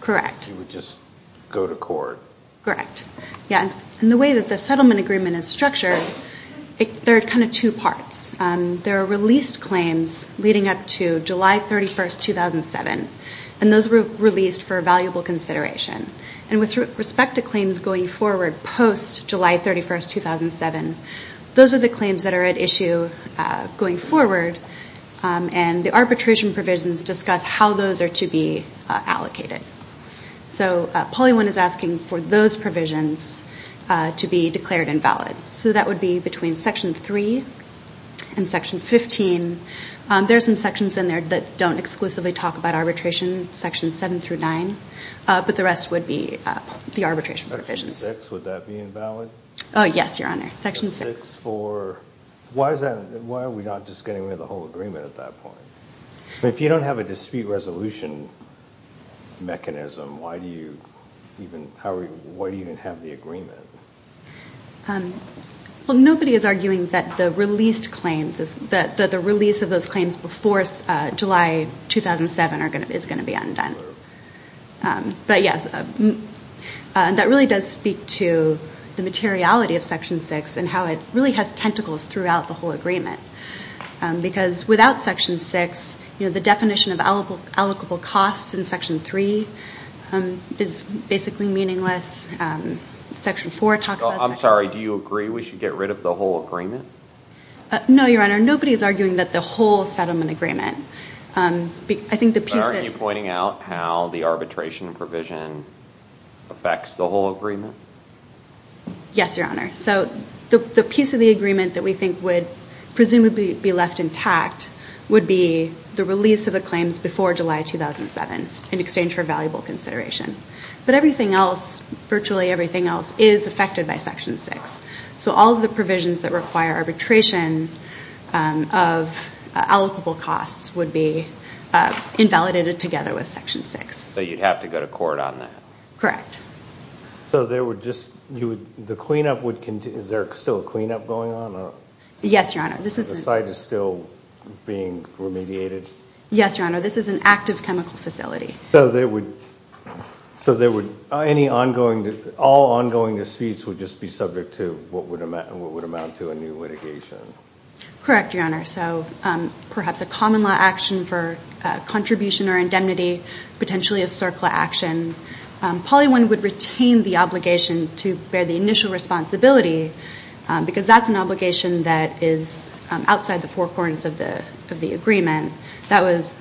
Correct. You would just go to court. Correct. Yeah, and the way that the settlement agreement is structured, there are kind of two parts. There are released claims leading up to July 31, 2007. And those were released for valuable consideration. And with respect to claims going forward post-July 31, 2007, those are the claims that are at issue going forward and the arbitration provisions discuss how those are to be allocated. So PolyOne is asking for those provisions to be declared invalid. So that would be between Section 3 and Section 15. There are some sections in there that don't exclusively talk about arbitration, Sections 7 through 9, but the rest would be the arbitration provisions. Section 6, would that be invalid? Oh, yes, Your Honor. Section 6. Why are we not just getting rid of the whole agreement at that point? If you don't have a dispute resolution mechanism, why do you even have the agreement? Well, nobody is arguing that the release of those claims before July 2007 is going to be undone. But yes, that really does speak to the materiality of Section 6 and how it really has tentacles throughout the whole agreement. Because without Section 6, the definition of allocable costs in Section 3 is basically meaningless. Section 4 talks about Section 6. I'm sorry, do you agree we should get rid of the whole agreement? No, Your Honor. Nobody is arguing that the whole settlement agreement. But aren't you pointing out how the arbitration provision affects the whole agreement? Yes, Your Honor. So the piece of the agreement that we think would presumably be left intact would be the release of the claims before July 2007 in exchange for valuable consideration. But everything else, virtually everything else, is affected by Section 6. So all of the provisions that require arbitration of allocable costs would be invalidated together with Section 6. So you'd have to go to court on that? Correct. So the cleanup would continue? Is there still a cleanup going on? Yes, Your Honor. The site is still being remediated? Yes, Your Honor. This is an active chemical facility. So all ongoing disputes would just be subject to what would amount to a new litigation? Correct, Your Honor. So perhaps a common law action for contribution or indemnity, potentially a CERCLA action. Poly 1 would retain the obligation to bear the initial responsibility because that's an obligation that is outside the four corners of the agreement. That was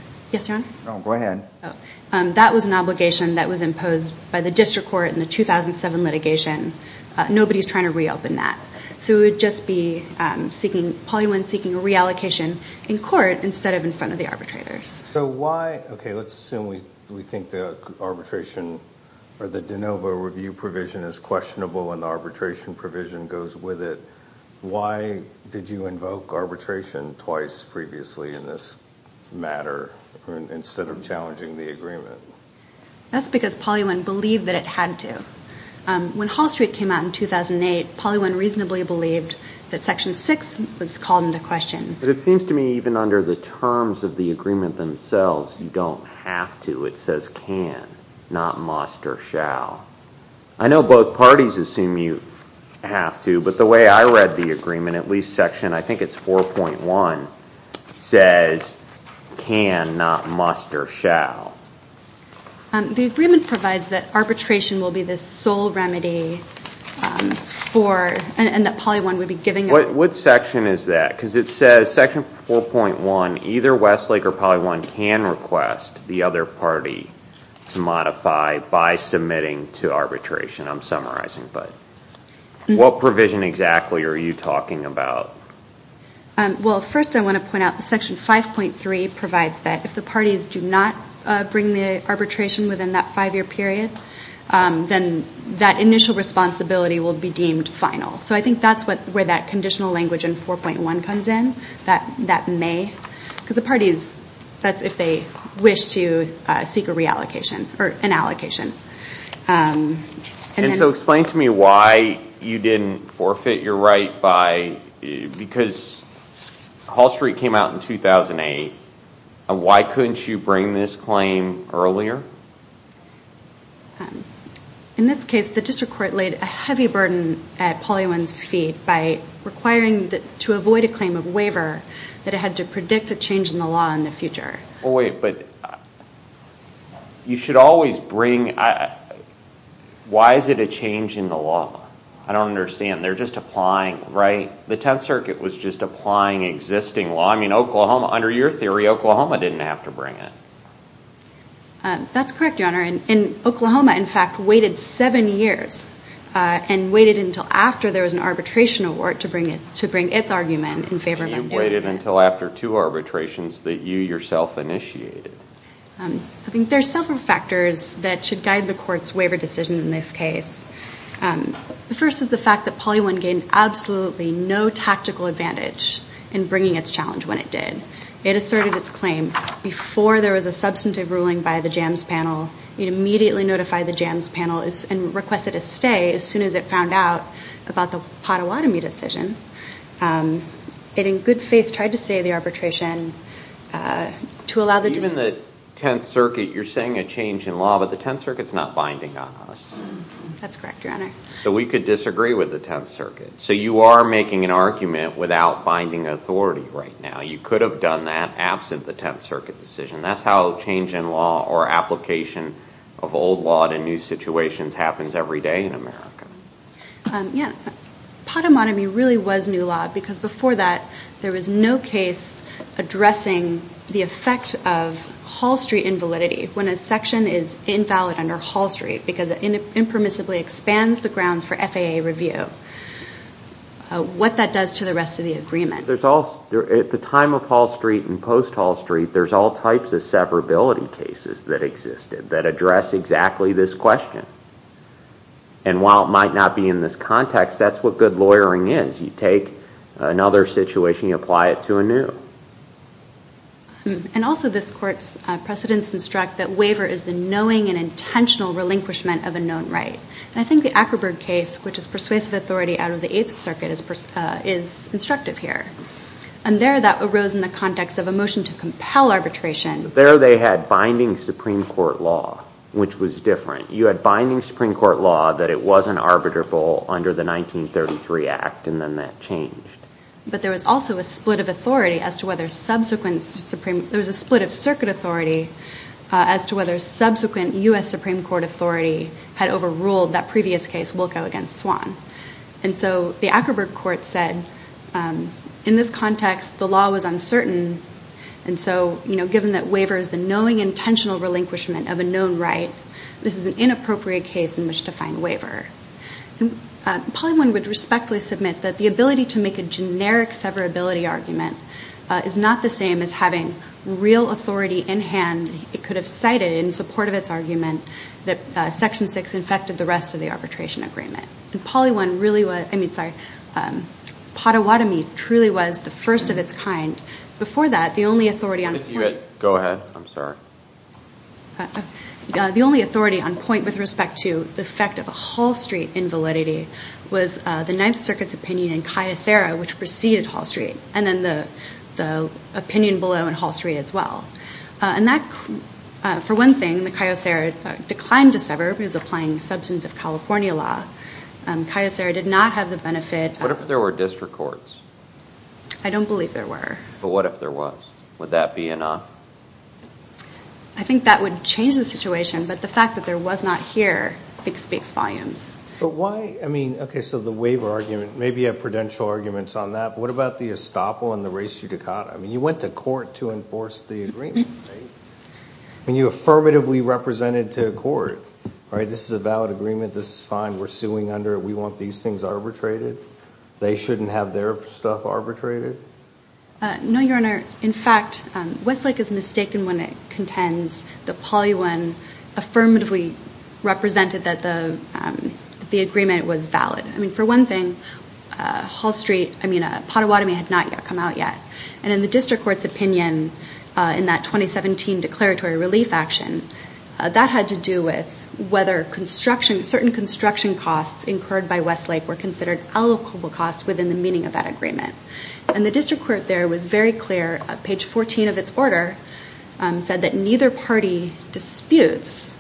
an obligation that was imposed by the district court in the 2007 litigation. Nobody is trying to reopen that. So it would just be Poly 1 seeking a reallocation in court instead of in front of the arbitrators. Okay, let's assume we think the arbitration or the de novo review provision is questionable and the arbitration provision goes with it. Why did you invoke arbitration twice previously in this matter instead of challenging the agreement? That's because Poly 1 believed that it had to. When Hall Street came out in 2008, Poly 1 reasonably believed that Section 6 was called into question. But it seems to me even under the terms of the agreement themselves, you don't have to. It says can, not must or shall. I know both parties assume you have to, but the way I read the agreement, at least Section, I think it's 4.1, says can, not must or shall. The agreement provides that arbitration will be the sole remedy and that Poly 1 would be giving it. What section is that? Because it says Section 4.1, either Westlake or Poly 1 can request the other party to modify by submitting to arbitration. I'm summarizing, but what provision exactly are you talking about? Well, first I want to point out that Section 5.3 provides that if the parties do not bring the arbitration within that five-year period, then that initial responsibility will be deemed final. I think that's where that conditional language in 4.1 comes in, that may. Because the parties, that's if they wish to seek a reallocation or an allocation. Explain to me why you didn't forfeit your right because Hall Street came out in 2008. Why couldn't you bring this claim earlier? In this case, the district court laid a heavy burden at Poly 1's feet by requiring to avoid a claim of waiver that it had to predict a change in the law in the future. Wait, but you should always bring, why is it a change in the law? I don't understand. They're just applying, right? The Tenth Circuit was just applying existing law. I mean, Oklahoma, under your theory, Oklahoma didn't have to bring it. That's correct, Your Honor. And Oklahoma, in fact, waited seven years and waited until after there was an arbitration award to bring its argument in favor of it. And you waited until after two arbitrations that you yourself initiated. I think there's several factors that should guide the court's waiver decision in this case. The first is the fact that Poly 1 gained absolutely no tactical advantage in bringing its challenge when it did. It asserted its claim before there was a substantive ruling by the JAMS panel. It immediately notified the JAMS panel and requested a stay as soon as it found out about the Pottawatomie decision. It, in good faith, tried to stay the arbitration to allow the judgement. Even the Tenth Circuit, you're saying a change in law, but the Tenth Circuit's not binding on us. That's correct, Your Honor. So we could disagree with the Tenth Circuit. So you are making an argument without binding authority right now. You could have done that absent the Tenth Circuit decision. That's how a change in law or application of old law to new situations happens every day in America. Yeah. Pottawatomie really was new law because before that there was no case addressing the effect of Hall Street invalidity when a section is invalid under Hall Street because it impermissibly expands the grounds for FAA review. What that does to the rest of the agreement. At the time of Hall Street and post-Hall Street, there's all types of severability cases that existed that address exactly this question. And while it might not be in this context, that's what good lawyering is. You take another situation, you apply it to a new. And also this Court's precedents instruct that waiver is the knowing and intentional relinquishment of a known right. And I think the Ackerberg case, which is persuasive authority out of the Eighth Circuit, is instructive here. And there that arose in the context of a motion to compel arbitration. There they had binding Supreme Court law, which was different. You had binding Supreme Court law that it wasn't arbitrable under the 1933 Act, and then that changed. But there was also a split of authority as to whether subsequent Supreme – there was a split of Circuit authority as to whether subsequent U.S. Supreme Court authority had overruled that previous case, Wilco against Swan. And so the Ackerberg Court said, in this context, the law was uncertain. And so, you know, given that waiver is the knowing, intentional relinquishment of a known right, this is an inappropriate case in which to find waiver. And Poly I would respectfully submit that the ability to make a generic severability argument is not the same as having real authority in hand. It could have cited, in support of its argument, that Section 6 infected the rest of the arbitration agreement. And Poly I really was – I mean, sorry, Potawatomi truly was the first of its kind. Before that, the only authority on point – Go ahead. I'm sorry. The only authority on point with respect to the effect of a Hall Street invalidity was the Ninth Circuit's opinion in Cayucera, which preceded Hall Street, and then the opinion below in Hall Street as well. And that, for one thing, the Cayucera declined to sever because applying the Substance of California law. Cayucera did not have the benefit of – What if there were district courts? I don't believe there were. But what if there was? Would that be enough? I think that would change the situation, but the fact that there was not here speaks volumes. But why – I mean, okay, so the waiver argument, maybe you have prudential arguments on that, but what about the estoppel and the res judicata? I mean, you went to court to enforce the agreement, right? I mean, you affirmatively represented to court, all right, this is a valid agreement, this is fine, we're suing under it, we want these things arbitrated. They shouldn't have their stuff arbitrated? No, Your Honor. In fact, Westlake is mistaken when it contends the poly one affirmatively represented that the agreement was valid. I mean, for one thing, Hall Street – I mean, Pottawatomie had not come out yet. And in the district court's opinion in that 2017 declaratory relief action, that had to do with whether certain construction costs incurred by Westlake were considered allocable costs within the meaning of that agreement. And the district court there was very clear. Page 14 of its order said that neither party disputes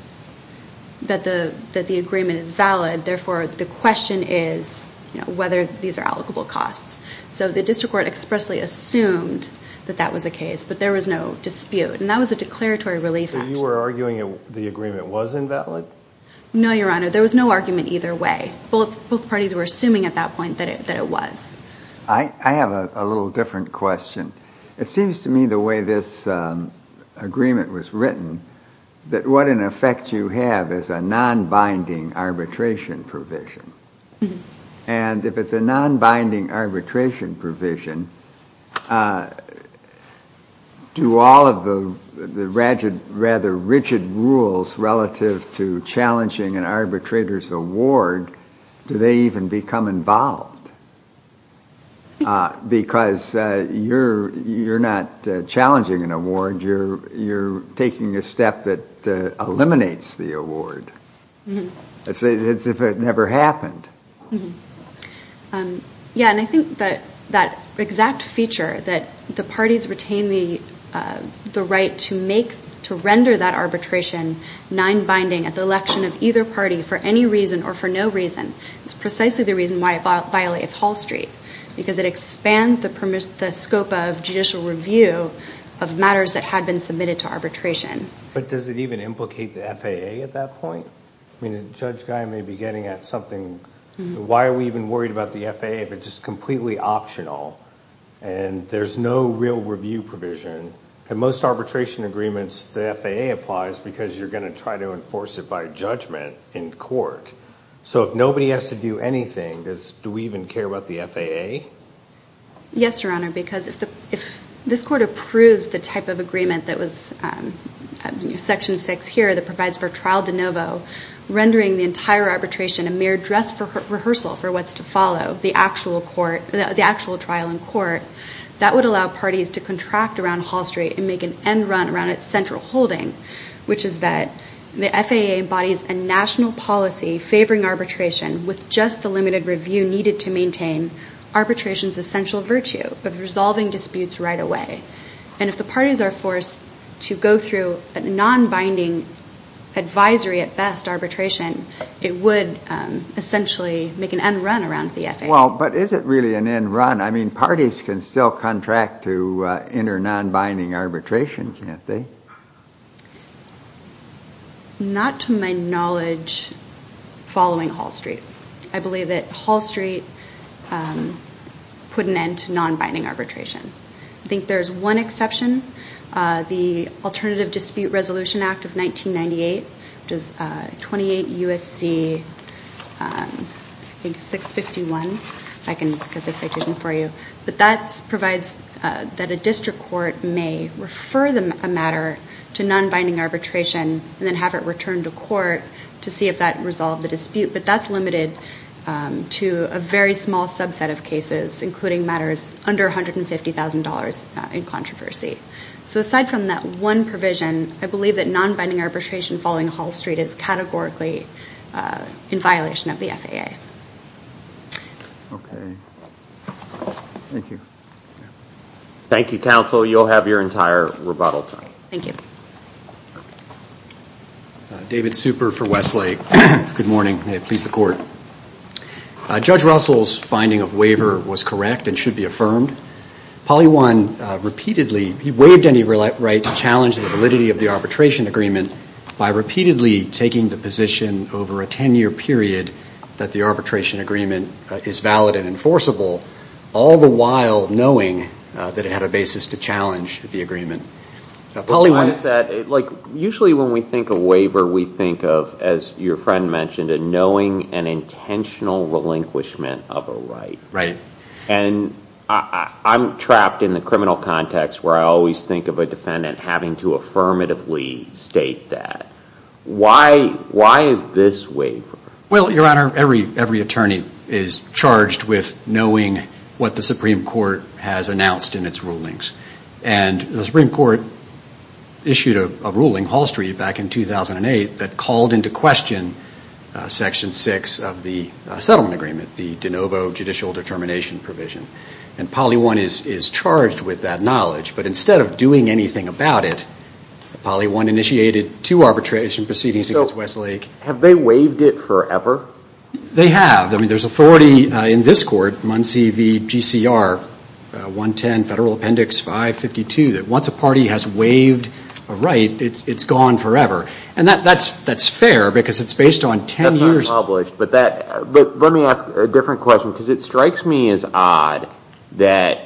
that the agreement is valid, therefore the question is whether these are allocable costs. So the district court expressly assumed that that was the case, but there was no dispute. And that was a declaratory relief action. So you were arguing the agreement was invalid? No, Your Honor. There was no argument either way. Both parties were assuming at that point that it was. I have a little different question. It seems to me the way this agreement was written, that what in effect you have is a non-binding arbitration provision. And if it's a non-binding arbitration provision, do all of the rather rigid rules relative to challenging an arbitrator's award, do they even become involved? Because you're not challenging an award. You're taking a step that eliminates the award, as if it never happened. Yeah, and I think that exact feature, that the parties retain the right to render that arbitration non-binding at the election of either party for any reason or for no reason, is precisely the reason why it violates Hall Street, because it expands the scope of judicial review of matters that had been submitted to arbitration. But does it even implicate the FAA at that point? I mean, Judge Guy may be getting at something. Why are we even worried about the FAA if it's just completely optional and there's no real review provision? In most arbitration agreements, the FAA applies because you're going to try to enforce it by judgment in court. So if nobody has to do anything, do we even care about the FAA? Yes, Your Honor, because if this court approves the type of agreement that was section 6 here that provides for trial de novo, rendering the entire arbitration a mere dress rehearsal for what's to follow, the actual trial in court, that would allow parties to contract around Hall Street and make an end run around its central holding, which is that the FAA embodies a national policy favoring arbitration with just the limited review needed to maintain arbitration's essential virtue of resolving disputes right away. And if the parties are forced to go through a non-binding advisory at best arbitration, it would essentially make an end run around the FAA. Well, but is it really an end run? I mean, parties can still contract to enter non-binding arbitration, can't they? Not to my knowledge following Hall Street. I believe that Hall Street put an end to non-binding arbitration. I think there's one exception, the Alternative Dispute Resolution Act of 1998, which is 28 U.S.C. 651. I can get the citation for you. But that provides that a district court may refer a matter to non-binding arbitration and then have it returned to court but that's limited to a very small subset of cases, including matters under $150,000 in controversy. So aside from that one provision, I believe that non-binding arbitration following Hall Street is categorically in violation of the FAA. Okay. Thank you. Thank you, counsel. You'll have your entire rebuttal time. Thank you. David Super for Westlake. Good morning. May it please the court. Judge Russell's finding of waiver was correct and should be affirmed. Polly Wan repeatedly, he waived any right to challenge the validity of the arbitration agreement by repeatedly taking the position over a 10-year period that the arbitration agreement is valid and enforceable, all the while knowing that it had a basis to challenge the agreement. Usually when we think of waiver, we think of, as your friend mentioned, a knowing and intentional relinquishment of a right. Right. And I'm trapped in the criminal context where I always think of a defendant having to affirmatively state that. Why is this waiver? Well, Your Honor, every attorney is charged with knowing what the Supreme Court has announced in its rulings. And the Supreme Court issued a ruling, Hall Street, back in 2008, that called into question Section 6 of the settlement agreement, the de novo judicial determination provision. And Polly Wan is charged with that knowledge. But instead of doing anything about it, Polly Wan initiated two arbitration proceedings against Westlake. So have they waived it forever? They have. I mean, there's authority in this court, Muncie v. GCR, 110 Federal Appendix 552, that once a party has waived a right, it's gone forever. And that's fair because it's based on 10 years. That's not published. But let me ask a different question because it strikes me as odd that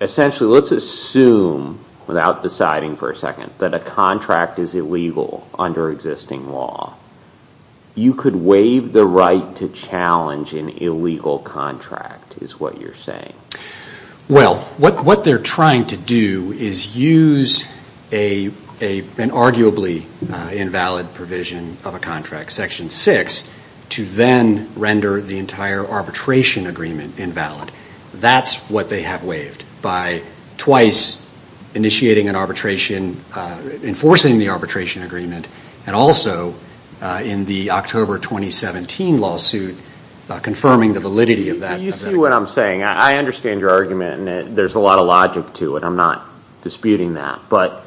essentially let's assume, without deciding for a second, that a contract is illegal under existing law. You could waive the right to challenge an illegal contract is what you're saying. Well, what they're trying to do is use an arguably invalid provision of a contract, Section 6, to then render the entire arbitration agreement invalid. That's what they have waived by twice initiating an arbitration, enforcing the arbitration agreement, and also in the October 2017 lawsuit confirming the validity of that. Do you see what I'm saying? I understand your argument, and there's a lot of logic to it. I'm not disputing that. But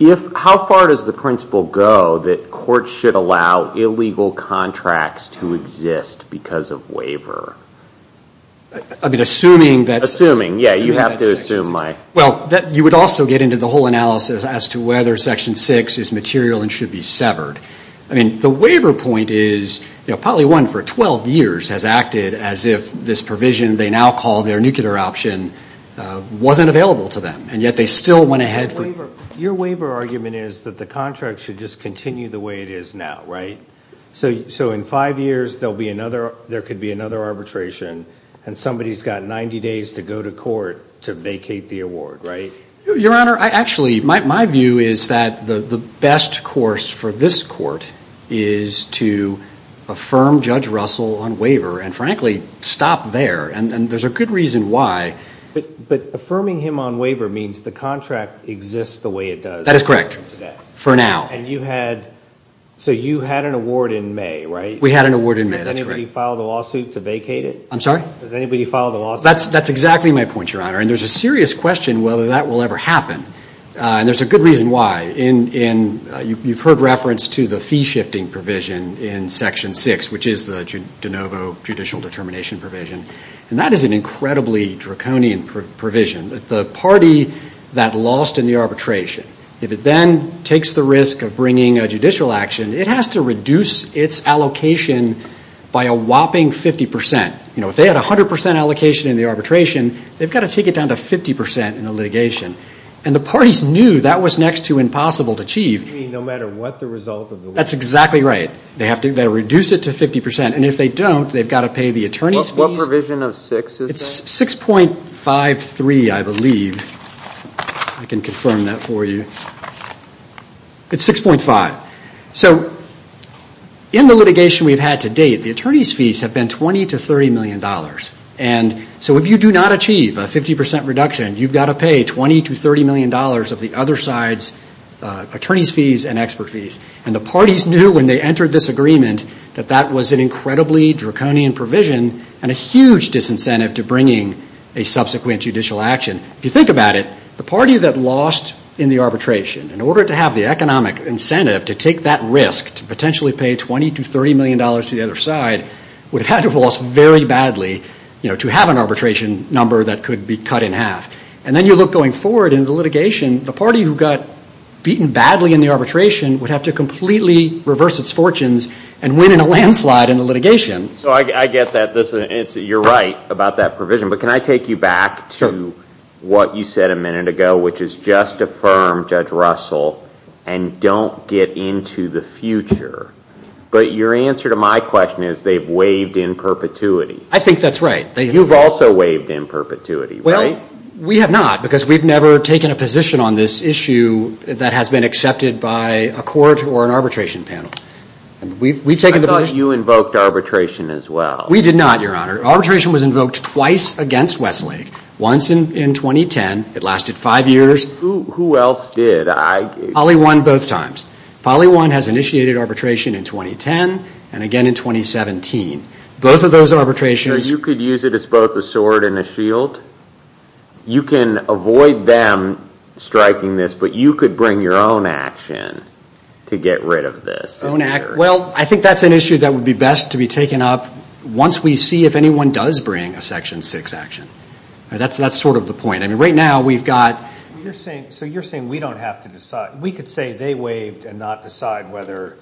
how far does the principle go that courts should allow illegal contracts to exist because of waiver? I mean, assuming that's. Assuming. Yeah, you have to assume. Well, you would also get into the whole analysis as to whether Section 6 is material and should be severed. I mean, the waiver point is probably one for 12 years has acted as if this provision they now call their nuclear option wasn't available to them, and yet they still went ahead. Your waiver argument is that the contract should just continue the way it is now, right? So in five years, there could be another arbitration, and somebody's got 90 days to go to court to vacate the award, right? Your Honor, actually, my view is that the best course for this court is to affirm Judge Russell on waiver and, frankly, stop there, and there's a good reason why. But affirming him on waiver means the contract exists the way it does. That is correct. For now. So you had an award in May, right? We had an award in May. That's correct. Does anybody file the lawsuit to vacate it? I'm sorry? Does anybody file the lawsuit? That's exactly my point, Your Honor, and there's a serious question whether that will ever happen, and there's a good reason why. You've heard reference to the fee-shifting provision in Section 6, which is the de novo judicial determination provision, and that is an incredibly draconian provision. The party that lost in the arbitration, if it then takes the risk of bringing a judicial action, it has to reduce its allocation by a whopping 50%. If they had 100% allocation in the arbitration, they've got to take it down to 50% in the litigation, and the parties knew that was next to impossible to achieve. You mean no matter what the result of the lawsuit? That's exactly right. They have to reduce it to 50%, and if they don't, they've got to pay the attorney's fees. What provision of 6 is that? It's 6.53, I believe. I can confirm that for you. It's 6.5. So in the litigation we've had to date, the attorney's fees have been $20 to $30 million, and so if you do not achieve a 50% reduction, you've got to pay $20 to $30 million of the other side's attorney's fees and expert fees, and the parties knew when they entered this agreement that that was an incredibly draconian provision and a huge disincentive to bringing a subsequent judicial action. If you think about it, the party that lost in the arbitration, in order to have the economic incentive to take that risk, to potentially pay $20 to $30 million to the other side, would have had to have lost very badly to have an arbitration number that could be cut in half. And then you look going forward in the litigation, the party who got beaten badly in the arbitration would have to completely reverse its fortunes and win in a landslide in the litigation. So I get that. You're right about that provision, but can I take you back to what you said a minute ago, which is just affirm Judge Russell and don't get into the future. But your answer to my question is they've waived in perpetuity. I think that's right. You've also waived in perpetuity, right? Well, we have not, because we've never taken a position on this issue that has been accepted by a court or an arbitration panel. I thought you invoked arbitration as well. We did not, Your Honor. Arbitration was invoked twice against Westlake, once in 2010. It lasted five years. Who else did? Poly 1 both times. Poly 1 has initiated arbitration in 2010 and again in 2017. Both of those arbitrations. So you could use it as both a sword and a shield? You can avoid them striking this, but you could bring your own action to get rid of this? Well, I think that's an issue that would be best to be taken up once we see if anyone does bring a Section 6 action. That's sort of the point. I mean, right now we've got. So you're saying we don't have to decide. We could say they waived and not decide whether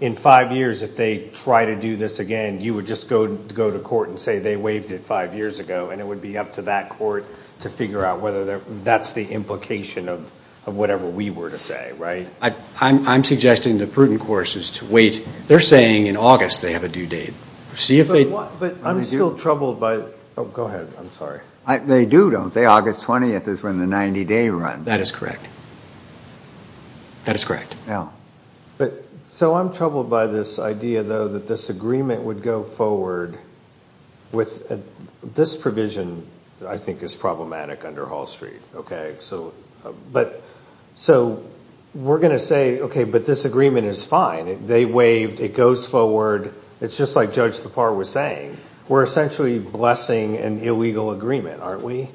in five years if they try to do this again, you would just go to court and say they waived it five years ago, and it would be up to that court to figure out whether that's the implication of whatever we were to say, right? I'm suggesting the prudent course is to wait. They're saying in August they have a due date. See if they. But I'm still troubled by. Oh, go ahead. I'm sorry. They do, don't they? August 20th is when the 90-day run. That is correct. That is correct. Yeah. But so I'm troubled by this idea, though, that this agreement would go forward with. This provision, I think, is problematic under Hall Street. OK, so. But so we're going to say, OK, but this agreement is fine. They waived. It goes forward. It's just like Judge Tappar was saying. We're essentially blessing an illegal agreement, aren't we?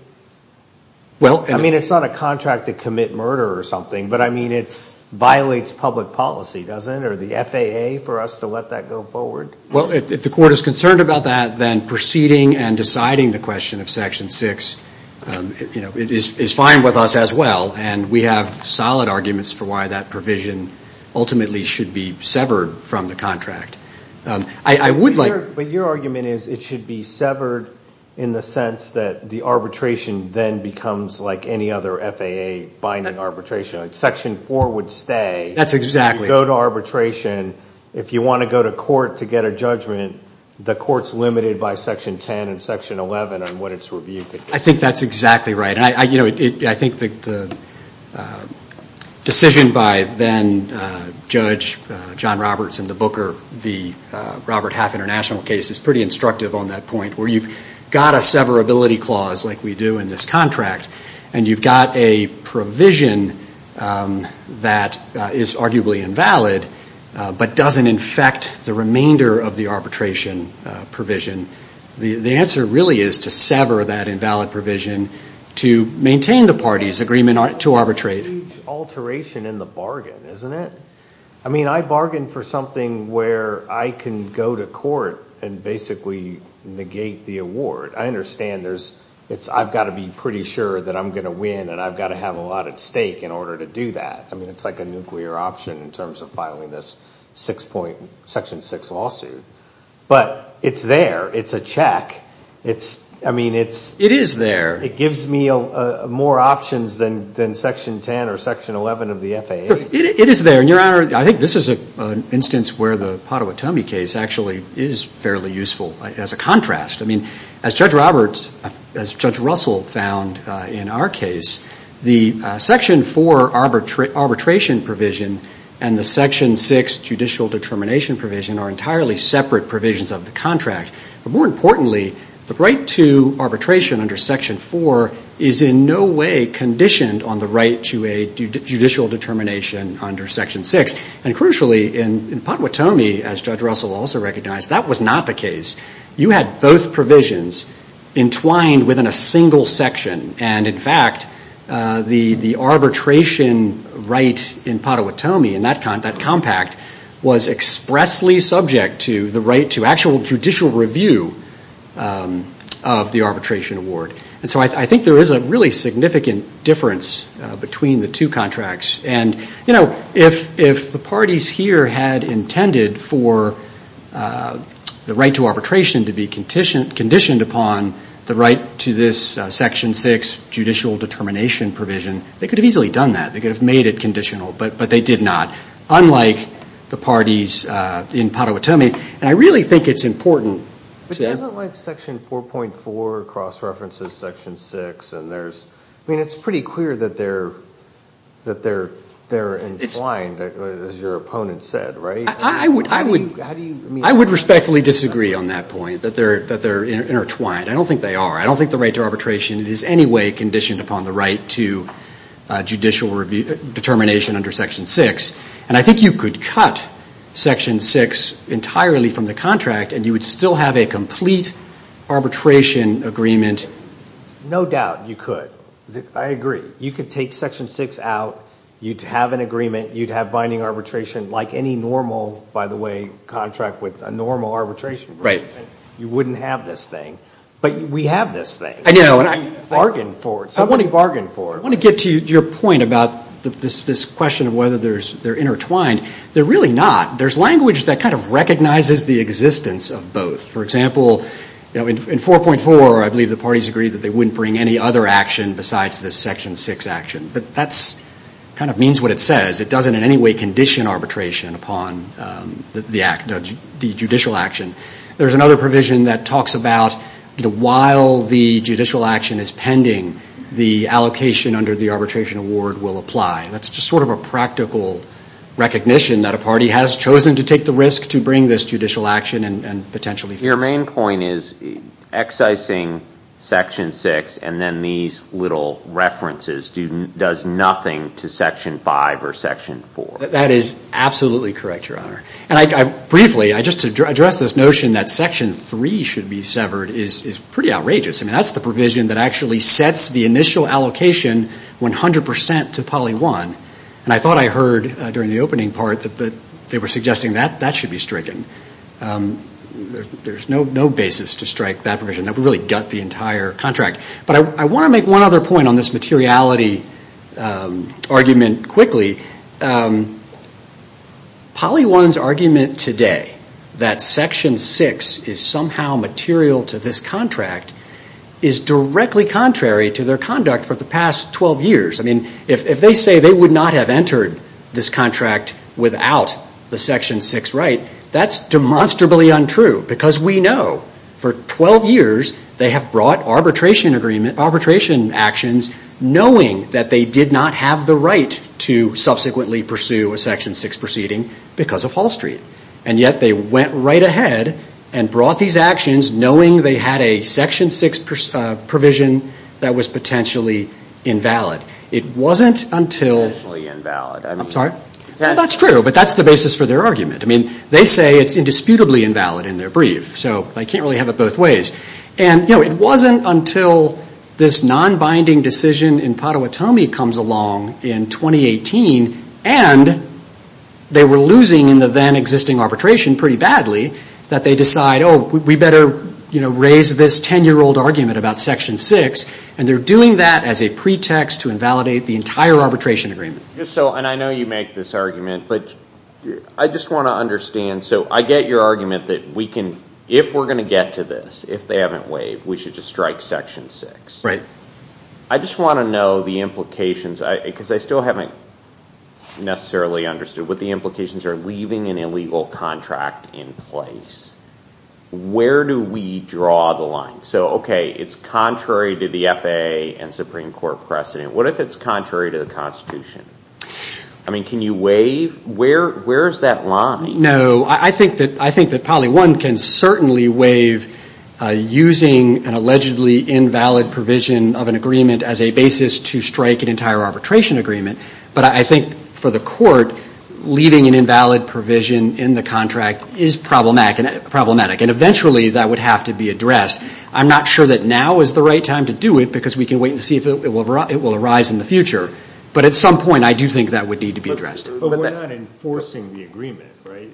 I mean, it's not a contract to commit murder or something, but, I mean, it violates public policy, doesn't it, or the FAA for us to let that go forward? Well, if the court is concerned about that, then proceeding and deciding the question of Section 6 is fine with us as well, and we have solid arguments for why that provision ultimately should be severed from the contract. I would like. But your argument is it should be severed in the sense that the arbitration then becomes like any other FAA binding arbitration. Section 4 would stay. That's exactly. You go to arbitration. If you want to go to court to get a judgment, the court's limited by Section 10 and Section 11 on what its review could do. I think that's exactly right. I think the decision by then Judge John Roberts in the Booker v. Robert Half International case is pretty instructive on that point, where you've got a severability clause like we do in this contract, and you've got a provision that is arguably invalid but doesn't infect the remainder of the arbitration provision. The answer really is to sever that invalid provision to maintain the party's agreement to arbitrate. It's a huge alteration in the bargain, isn't it? I mean, I bargain for something where I can go to court and basically negate the award. I understand I've got to be pretty sure that I'm going to win, and I've got to have a lot at stake in order to do that. I mean, it's like a nuclear option in terms of filing this Section 6 lawsuit. But it's there. It's a check. I mean, it gives me more options than Section 10 or Section 11 of the FAA. It is there, and, Your Honor, I think this is an instance where the Potawatomi case actually is fairly useful as a contrast. I mean, as Judge Roberts, as Judge Russell found in our case, the Section 4 arbitration provision and the Section 6 judicial determination provision are entirely separate provisions of the contract. But more importantly, the right to arbitration under Section 4 is in no way conditioned on the right to a judicial determination under Section 6. And crucially, in Potawatomi, as Judge Russell also recognized, that was not the case. You had both provisions entwined within a single section. And, in fact, the arbitration right in Potawatomi, in that compact, was expressly subject to the right to actual judicial review of the arbitration award. And so I think there is a really significant difference between the two contracts. And, you know, if the parties here had intended for the right to arbitration to be conditioned upon the right to this Section 6 judicial determination provision, they could have easily done that. They could have made it conditional. But they did not, unlike the parties in Potawatomi. And I really think it's important to – But isn't, like, Section 4.4 cross-references Section 6? I mean, it's pretty clear that they're entwined, as your opponent said, right? I would respectfully disagree on that point, that they're intertwined. I don't think they are. I don't think the right to arbitration is in any way conditioned upon the right to judicial determination under Section 6. And I think you could cut Section 6 entirely from the contract, and you would still have a complete arbitration agreement. No doubt you could. I agree. You could take Section 6 out. You'd have an agreement. You'd have binding arbitration like any normal, by the way, contract with a normal arbitration agreement. You wouldn't have this thing. But we have this thing. I know. And we bargained for it. Somebody bargained for it. I want to get to your point about this question of whether they're intertwined. They're really not. There's language that kind of recognizes the existence of both. For example, in 4.4, I believe the parties agreed that they wouldn't bring any other action besides this Section 6 action. But that kind of means what it says. It doesn't in any way condition arbitration upon the judicial action. There's another provision that talks about while the judicial action is pending, the allocation under the arbitration award will apply. That's just sort of a practical recognition that a party has chosen to take the risk to bring this judicial action and potentially fix it. Your main point is excising Section 6 and then these little references does nothing to Section 5 or Section 4. That is absolutely correct, Your Honor. And briefly, just to address this notion that Section 3 should be severed is pretty outrageous. I mean, that's the provision that actually sets the initial allocation 100% to Poly 1. And I thought I heard during the opening part that they were suggesting that that should be stricken. There's no basis to strike that provision. That would really gut the entire contract. But I want to make one other point on this materiality argument quickly. Poly 1's argument today that Section 6 is somehow material to this contract is directly contrary to their conduct for the past 12 years. I mean, if they say they would not have entered this contract without the Section 6 right, that's demonstrably untrue. Because we know for 12 years they have brought arbitration actions knowing that they did not have the right to subsequently pursue a Section 6 proceeding because of Hall Street. And yet they went right ahead and brought these actions knowing they had a Section 6 provision that was potentially invalid. It wasn't until – Potentially invalid. I'm sorry? That's true. But that's the basis for their argument. I mean, they say it's indisputably invalid in their brief. So they can't really have it both ways. And it wasn't until this non-binding decision in Potawatomi comes along in 2018, and they were losing in the then existing arbitration pretty badly, that they decide, oh, we better raise this 10-year-old argument about Section 6. And they're doing that as a pretext to invalidate the entire arbitration agreement. And I know you make this argument, but I just want to understand. So I get your argument that if we're going to get to this, if they haven't waived, we should just strike Section 6. Right. I just want to know the implications, because I still haven't necessarily understood what the implications are, leaving an illegal contract in place. Where do we draw the line? So, okay, it's contrary to the FAA and Supreme Court precedent. What if it's contrary to the Constitution? I mean, can you waive? Where is that line? No. I think that probably one can certainly waive using an allegedly invalid provision of an agreement as a basis to strike an entire arbitration agreement. But I think for the court, leaving an invalid provision in the contract is problematic, and eventually that would have to be addressed. I'm not sure that now is the right time to do it, because we can wait and see if it will arise in the future. But at some point I do think that would need to be addressed. But we're not enforcing the agreement, right?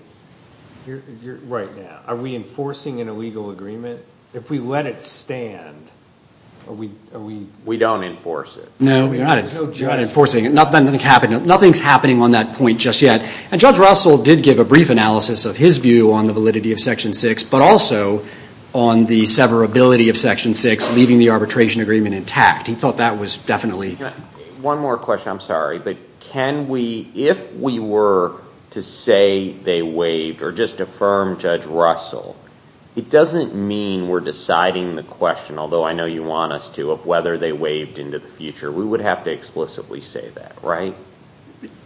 Right now. Are we enforcing an illegal agreement? If we let it stand, are we? We don't enforce it. No, you're not enforcing it. Nothing's happening on that point just yet. And Judge Russell did give a brief analysis of his view on the validity of Section 6, but also on the severability of Section 6, leaving the arbitration agreement intact. He thought that was definitely. One more question. I'm sorry, but can we, if we were to say they waived or just affirm Judge Russell, it doesn't mean we're deciding the question, although I know you want us to, of whether they waived into the future. We would have to explicitly say that, right?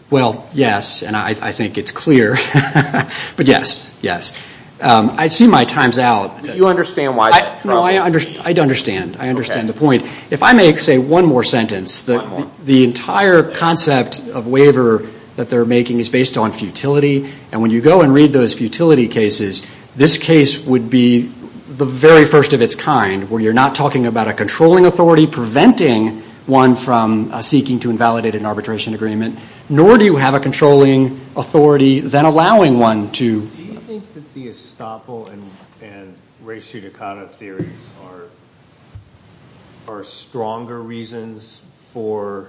Well, yes, and I think it's clear. But yes, yes. I see my time's out. Do you understand why? No, I understand. I understand the point. If I may say one more sentence. One more. The entire concept of waiver that they're making is based on futility, and when you go and read those futility cases, this case would be the very first of its kind where you're not talking about a controlling authority preventing one from seeking to invalidate an arbitration agreement, nor do you have a controlling authority then allowing one to. Do you think that the estoppel and res judicata theories are stronger reasons for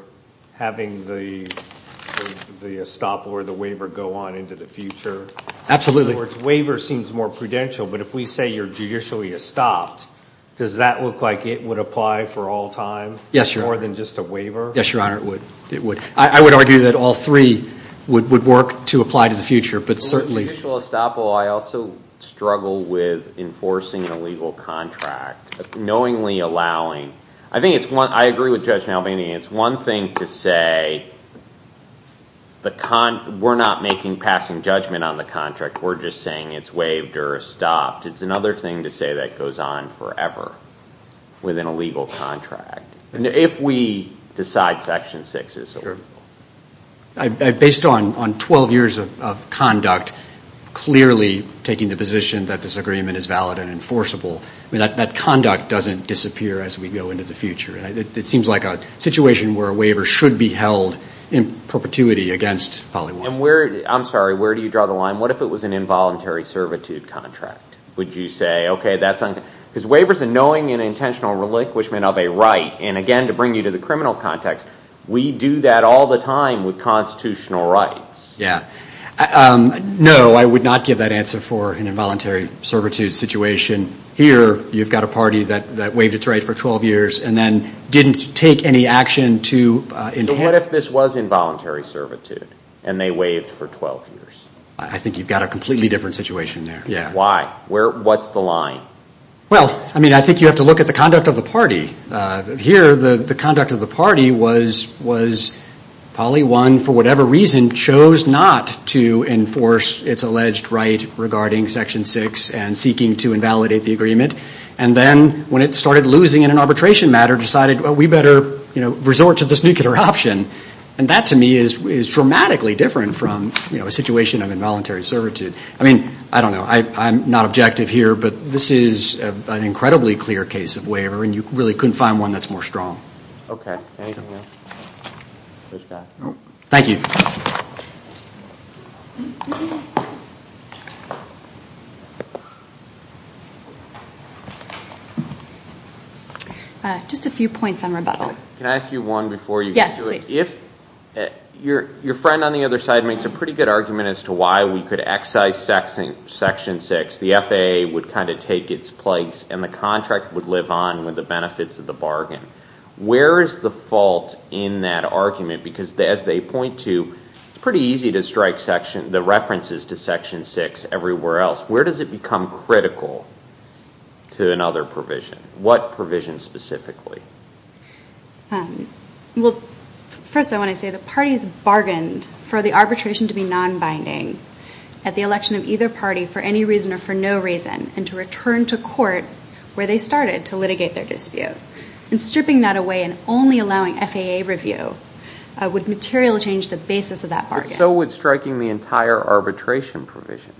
having the estoppel or the waiver go on into the future? Absolutely. In other words, waiver seems more prudential, but if we say you're judicially estopped, does that look like it would apply for all time? Yes, Your Honor. More than just a waiver? Yes, Your Honor, it would. I would argue that all three would work to apply to the future, but certainly. Judicially estoppel, I also struggle with enforcing an illegal contract, knowingly allowing. I agree with Judge Malvini. It's one thing to say we're not making passing judgment on the contract. We're just saying it's waived or stopped. It's another thing to say that goes on forever with an illegal contract, if we decide Section 6 is illegal. Based on 12 years of conduct, clearly taking the position that this agreement is valid and enforceable, that conduct doesn't disappear as we go into the future. It seems like a situation where a waiver should be held in perpetuity against Polly Warren. I'm sorry. Where do you draw the line? What if it was an involuntary servitude contract? Would you say, okay, that's on? Because waivers are knowing and intentional relinquishment of a right. And again, to bring you to the criminal context, we do that all the time with constitutional rights. Yeah. No, I would not give that answer for an involuntary servitude situation. Here, you've got a party that waived its right for 12 years and then didn't take any action to enhance. So what if this was involuntary servitude and they waived for 12 years? I think you've got a completely different situation there. Why? What's the line? Well, I mean, I think you have to look at the conduct of the party. Here, the conduct of the party was Polly Warren, for whatever reason, chose not to enforce its alleged right regarding Section 6 and seeking to invalidate the agreement. And then when it started losing in an arbitration matter, decided, well, we better resort to this nuclear option. And that, to me, is dramatically different from a situation of involuntary servitude. I mean, I don't know. I'm not objective here, but this is an incredibly clear case of waiver, and you really couldn't find one that's more strong. Okay. Thank you. Just a few points on rebuttal. Can I ask you one before you do it? Yes, please. If your friend on the other side makes a pretty good argument as to why we could excise Section 6, the FAA would kind of take its place and the contract would live on with the benefits of the bargain. Where is the fault in that argument? Because as they point to, it's pretty easy to strike the references to Section 6 everywhere else. Where does it become critical to another provision? What provision specifically? Well, first I want to say the parties bargained for the arbitration to be nonbinding at the election of either party for any reason or for no reason and to return to court where they started to litigate their dispute. And stripping that away and only allowing FAA review would materially change the basis of that bargain. But so would striking the entire arbitration provision.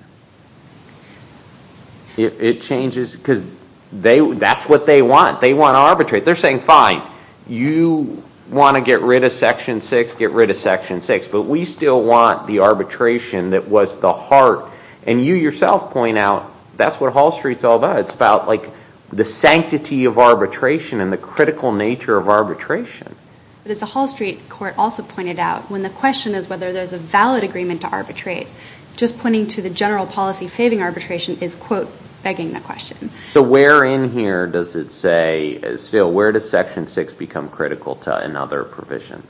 It changes because that's what they want. They want to arbitrate. They're saying, fine, you want to get rid of Section 6, get rid of Section 6. But we still want the arbitration that was the heart. And you yourself point out that's what Hall Street's all about. It's about the sanctity of arbitration and the critical nature of arbitration. But as the Hall Street court also pointed out, when the question is whether there's a valid agreement to arbitrate, just pointing to the general policy faving arbitration is, quote, begging the question. So where in here does it say, still, where does Section 6 become critical to another provision?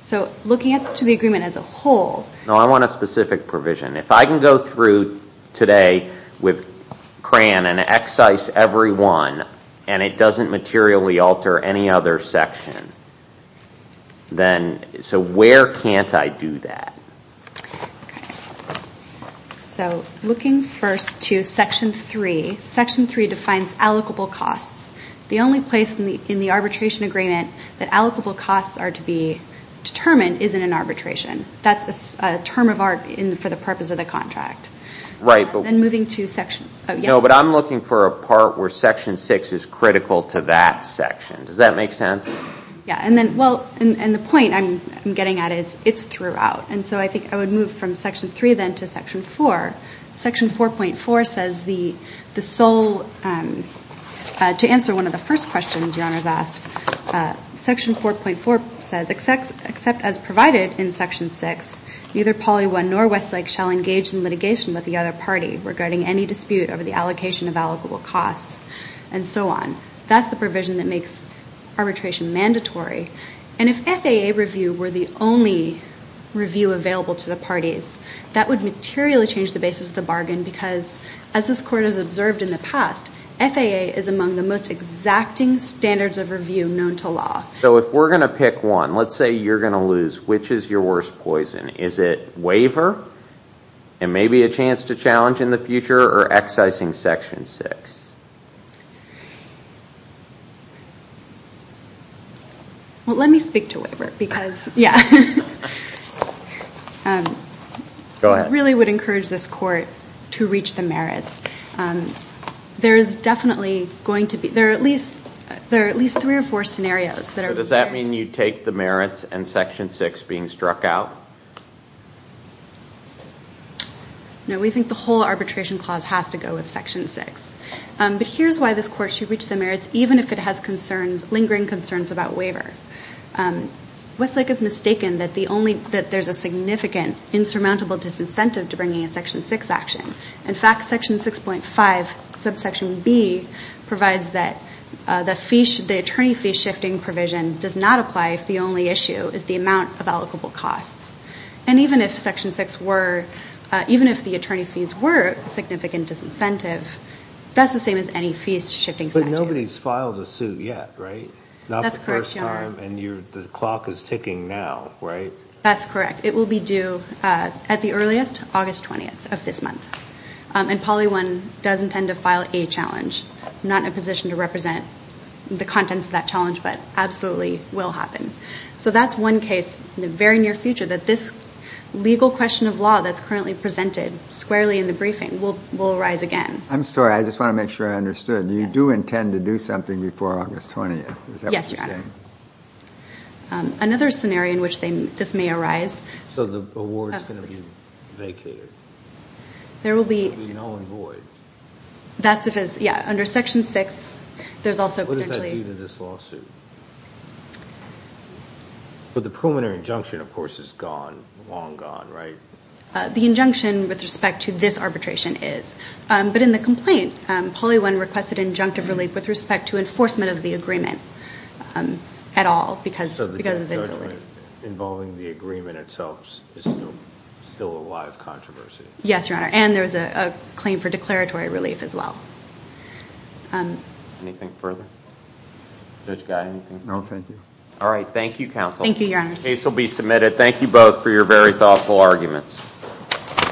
So looking to the agreement as a whole. No, I want a specific provision. If I can go through today with CRAN and excise every one and it doesn't materially alter any other section, then so where can't I do that? Okay. So looking first to Section 3. Section 3 defines allocable costs. The only place in the arbitration agreement that allocable costs are to be determined is in an arbitration. That's a term of art for the purpose of the contract. Right. Then moving to Section. No, but I'm looking for a part where Section 6 is critical to that section. Does that make sense? Yeah. And then, well, and the point I'm getting at is it's throughout. And so I think I would move from Section 3 then to Section 4. Section 4.4 says the sole, to answer one of the first questions your honors asked, Section 4.4 says except as provided in Section 6, neither Polly 1 nor Westlake shall engage in litigation with the other party regarding any dispute over the allocation of allocable costs, and so on. That's the provision that makes arbitration mandatory. And if FAA review were the only review available to the parties, that would materially change the basis of the bargain because, as this Court has observed in the past, FAA is among the most exacting standards of review known to law. So if we're going to pick one, let's say you're going to lose, which is your worst poison? Is it waiver and maybe a chance to challenge in the future or excising Section 6? Well, let me speak to waiver because, yeah. Go ahead. I really would encourage this Court to reach the merits. There is definitely going to be, there are at least three or four scenarios. So does that mean you take the merits and Section 6 being struck out? No, we think the whole arbitration clause has to go with Section 6. But here's why this Court should reach the merits even if it has lingering concerns about waiver. Westlake has mistaken that there's a significant insurmountable disincentive to bringing a Section 6 action. In fact, Section 6.5, subsection B, provides that the attorney fee shifting provision does not apply if the only issue is the amount of allocable costs. And even if Section 6 were, even if the attorney fees were a significant disincentive, that's the same as any fees shifting statute. But nobody's filed a suit yet, right? That's correct, Your Honor. Not the first time and the clock is ticking now, right? That's correct. It will be due at the earliest, August 20th of this month. And Poly 1 does intend to file a challenge. I'm not in a position to represent the contents of that challenge, but absolutely will happen. So that's one case in the very near future that this legal question of law that's currently presented squarely in the briefing will arise again. I'm sorry. I just want to make sure I understood. You do intend to do something before August 20th? Yes, Your Honor. Is that what you're saying? Another scenario in which this may arise. So the award's going to be vacated? There will be no invoice. That's because, yeah, under Section 6, there's also potentially But the preliminary injunction, of course, is gone, long gone, right? The injunction with respect to this arbitration is. But in the complaint, Poly 1 requested injunctive relief with respect to enforcement of the agreement at all. So the injunction involving the agreement itself is still a live controversy? Yes, Your Honor. And there's a claim for declaratory relief as well. Anything further? Judge Guy, anything? No, thank you. All right. Thank you, counsel. Thank you, Your Honor. The case will be submitted. Thank you both for your very thoughtful arguments.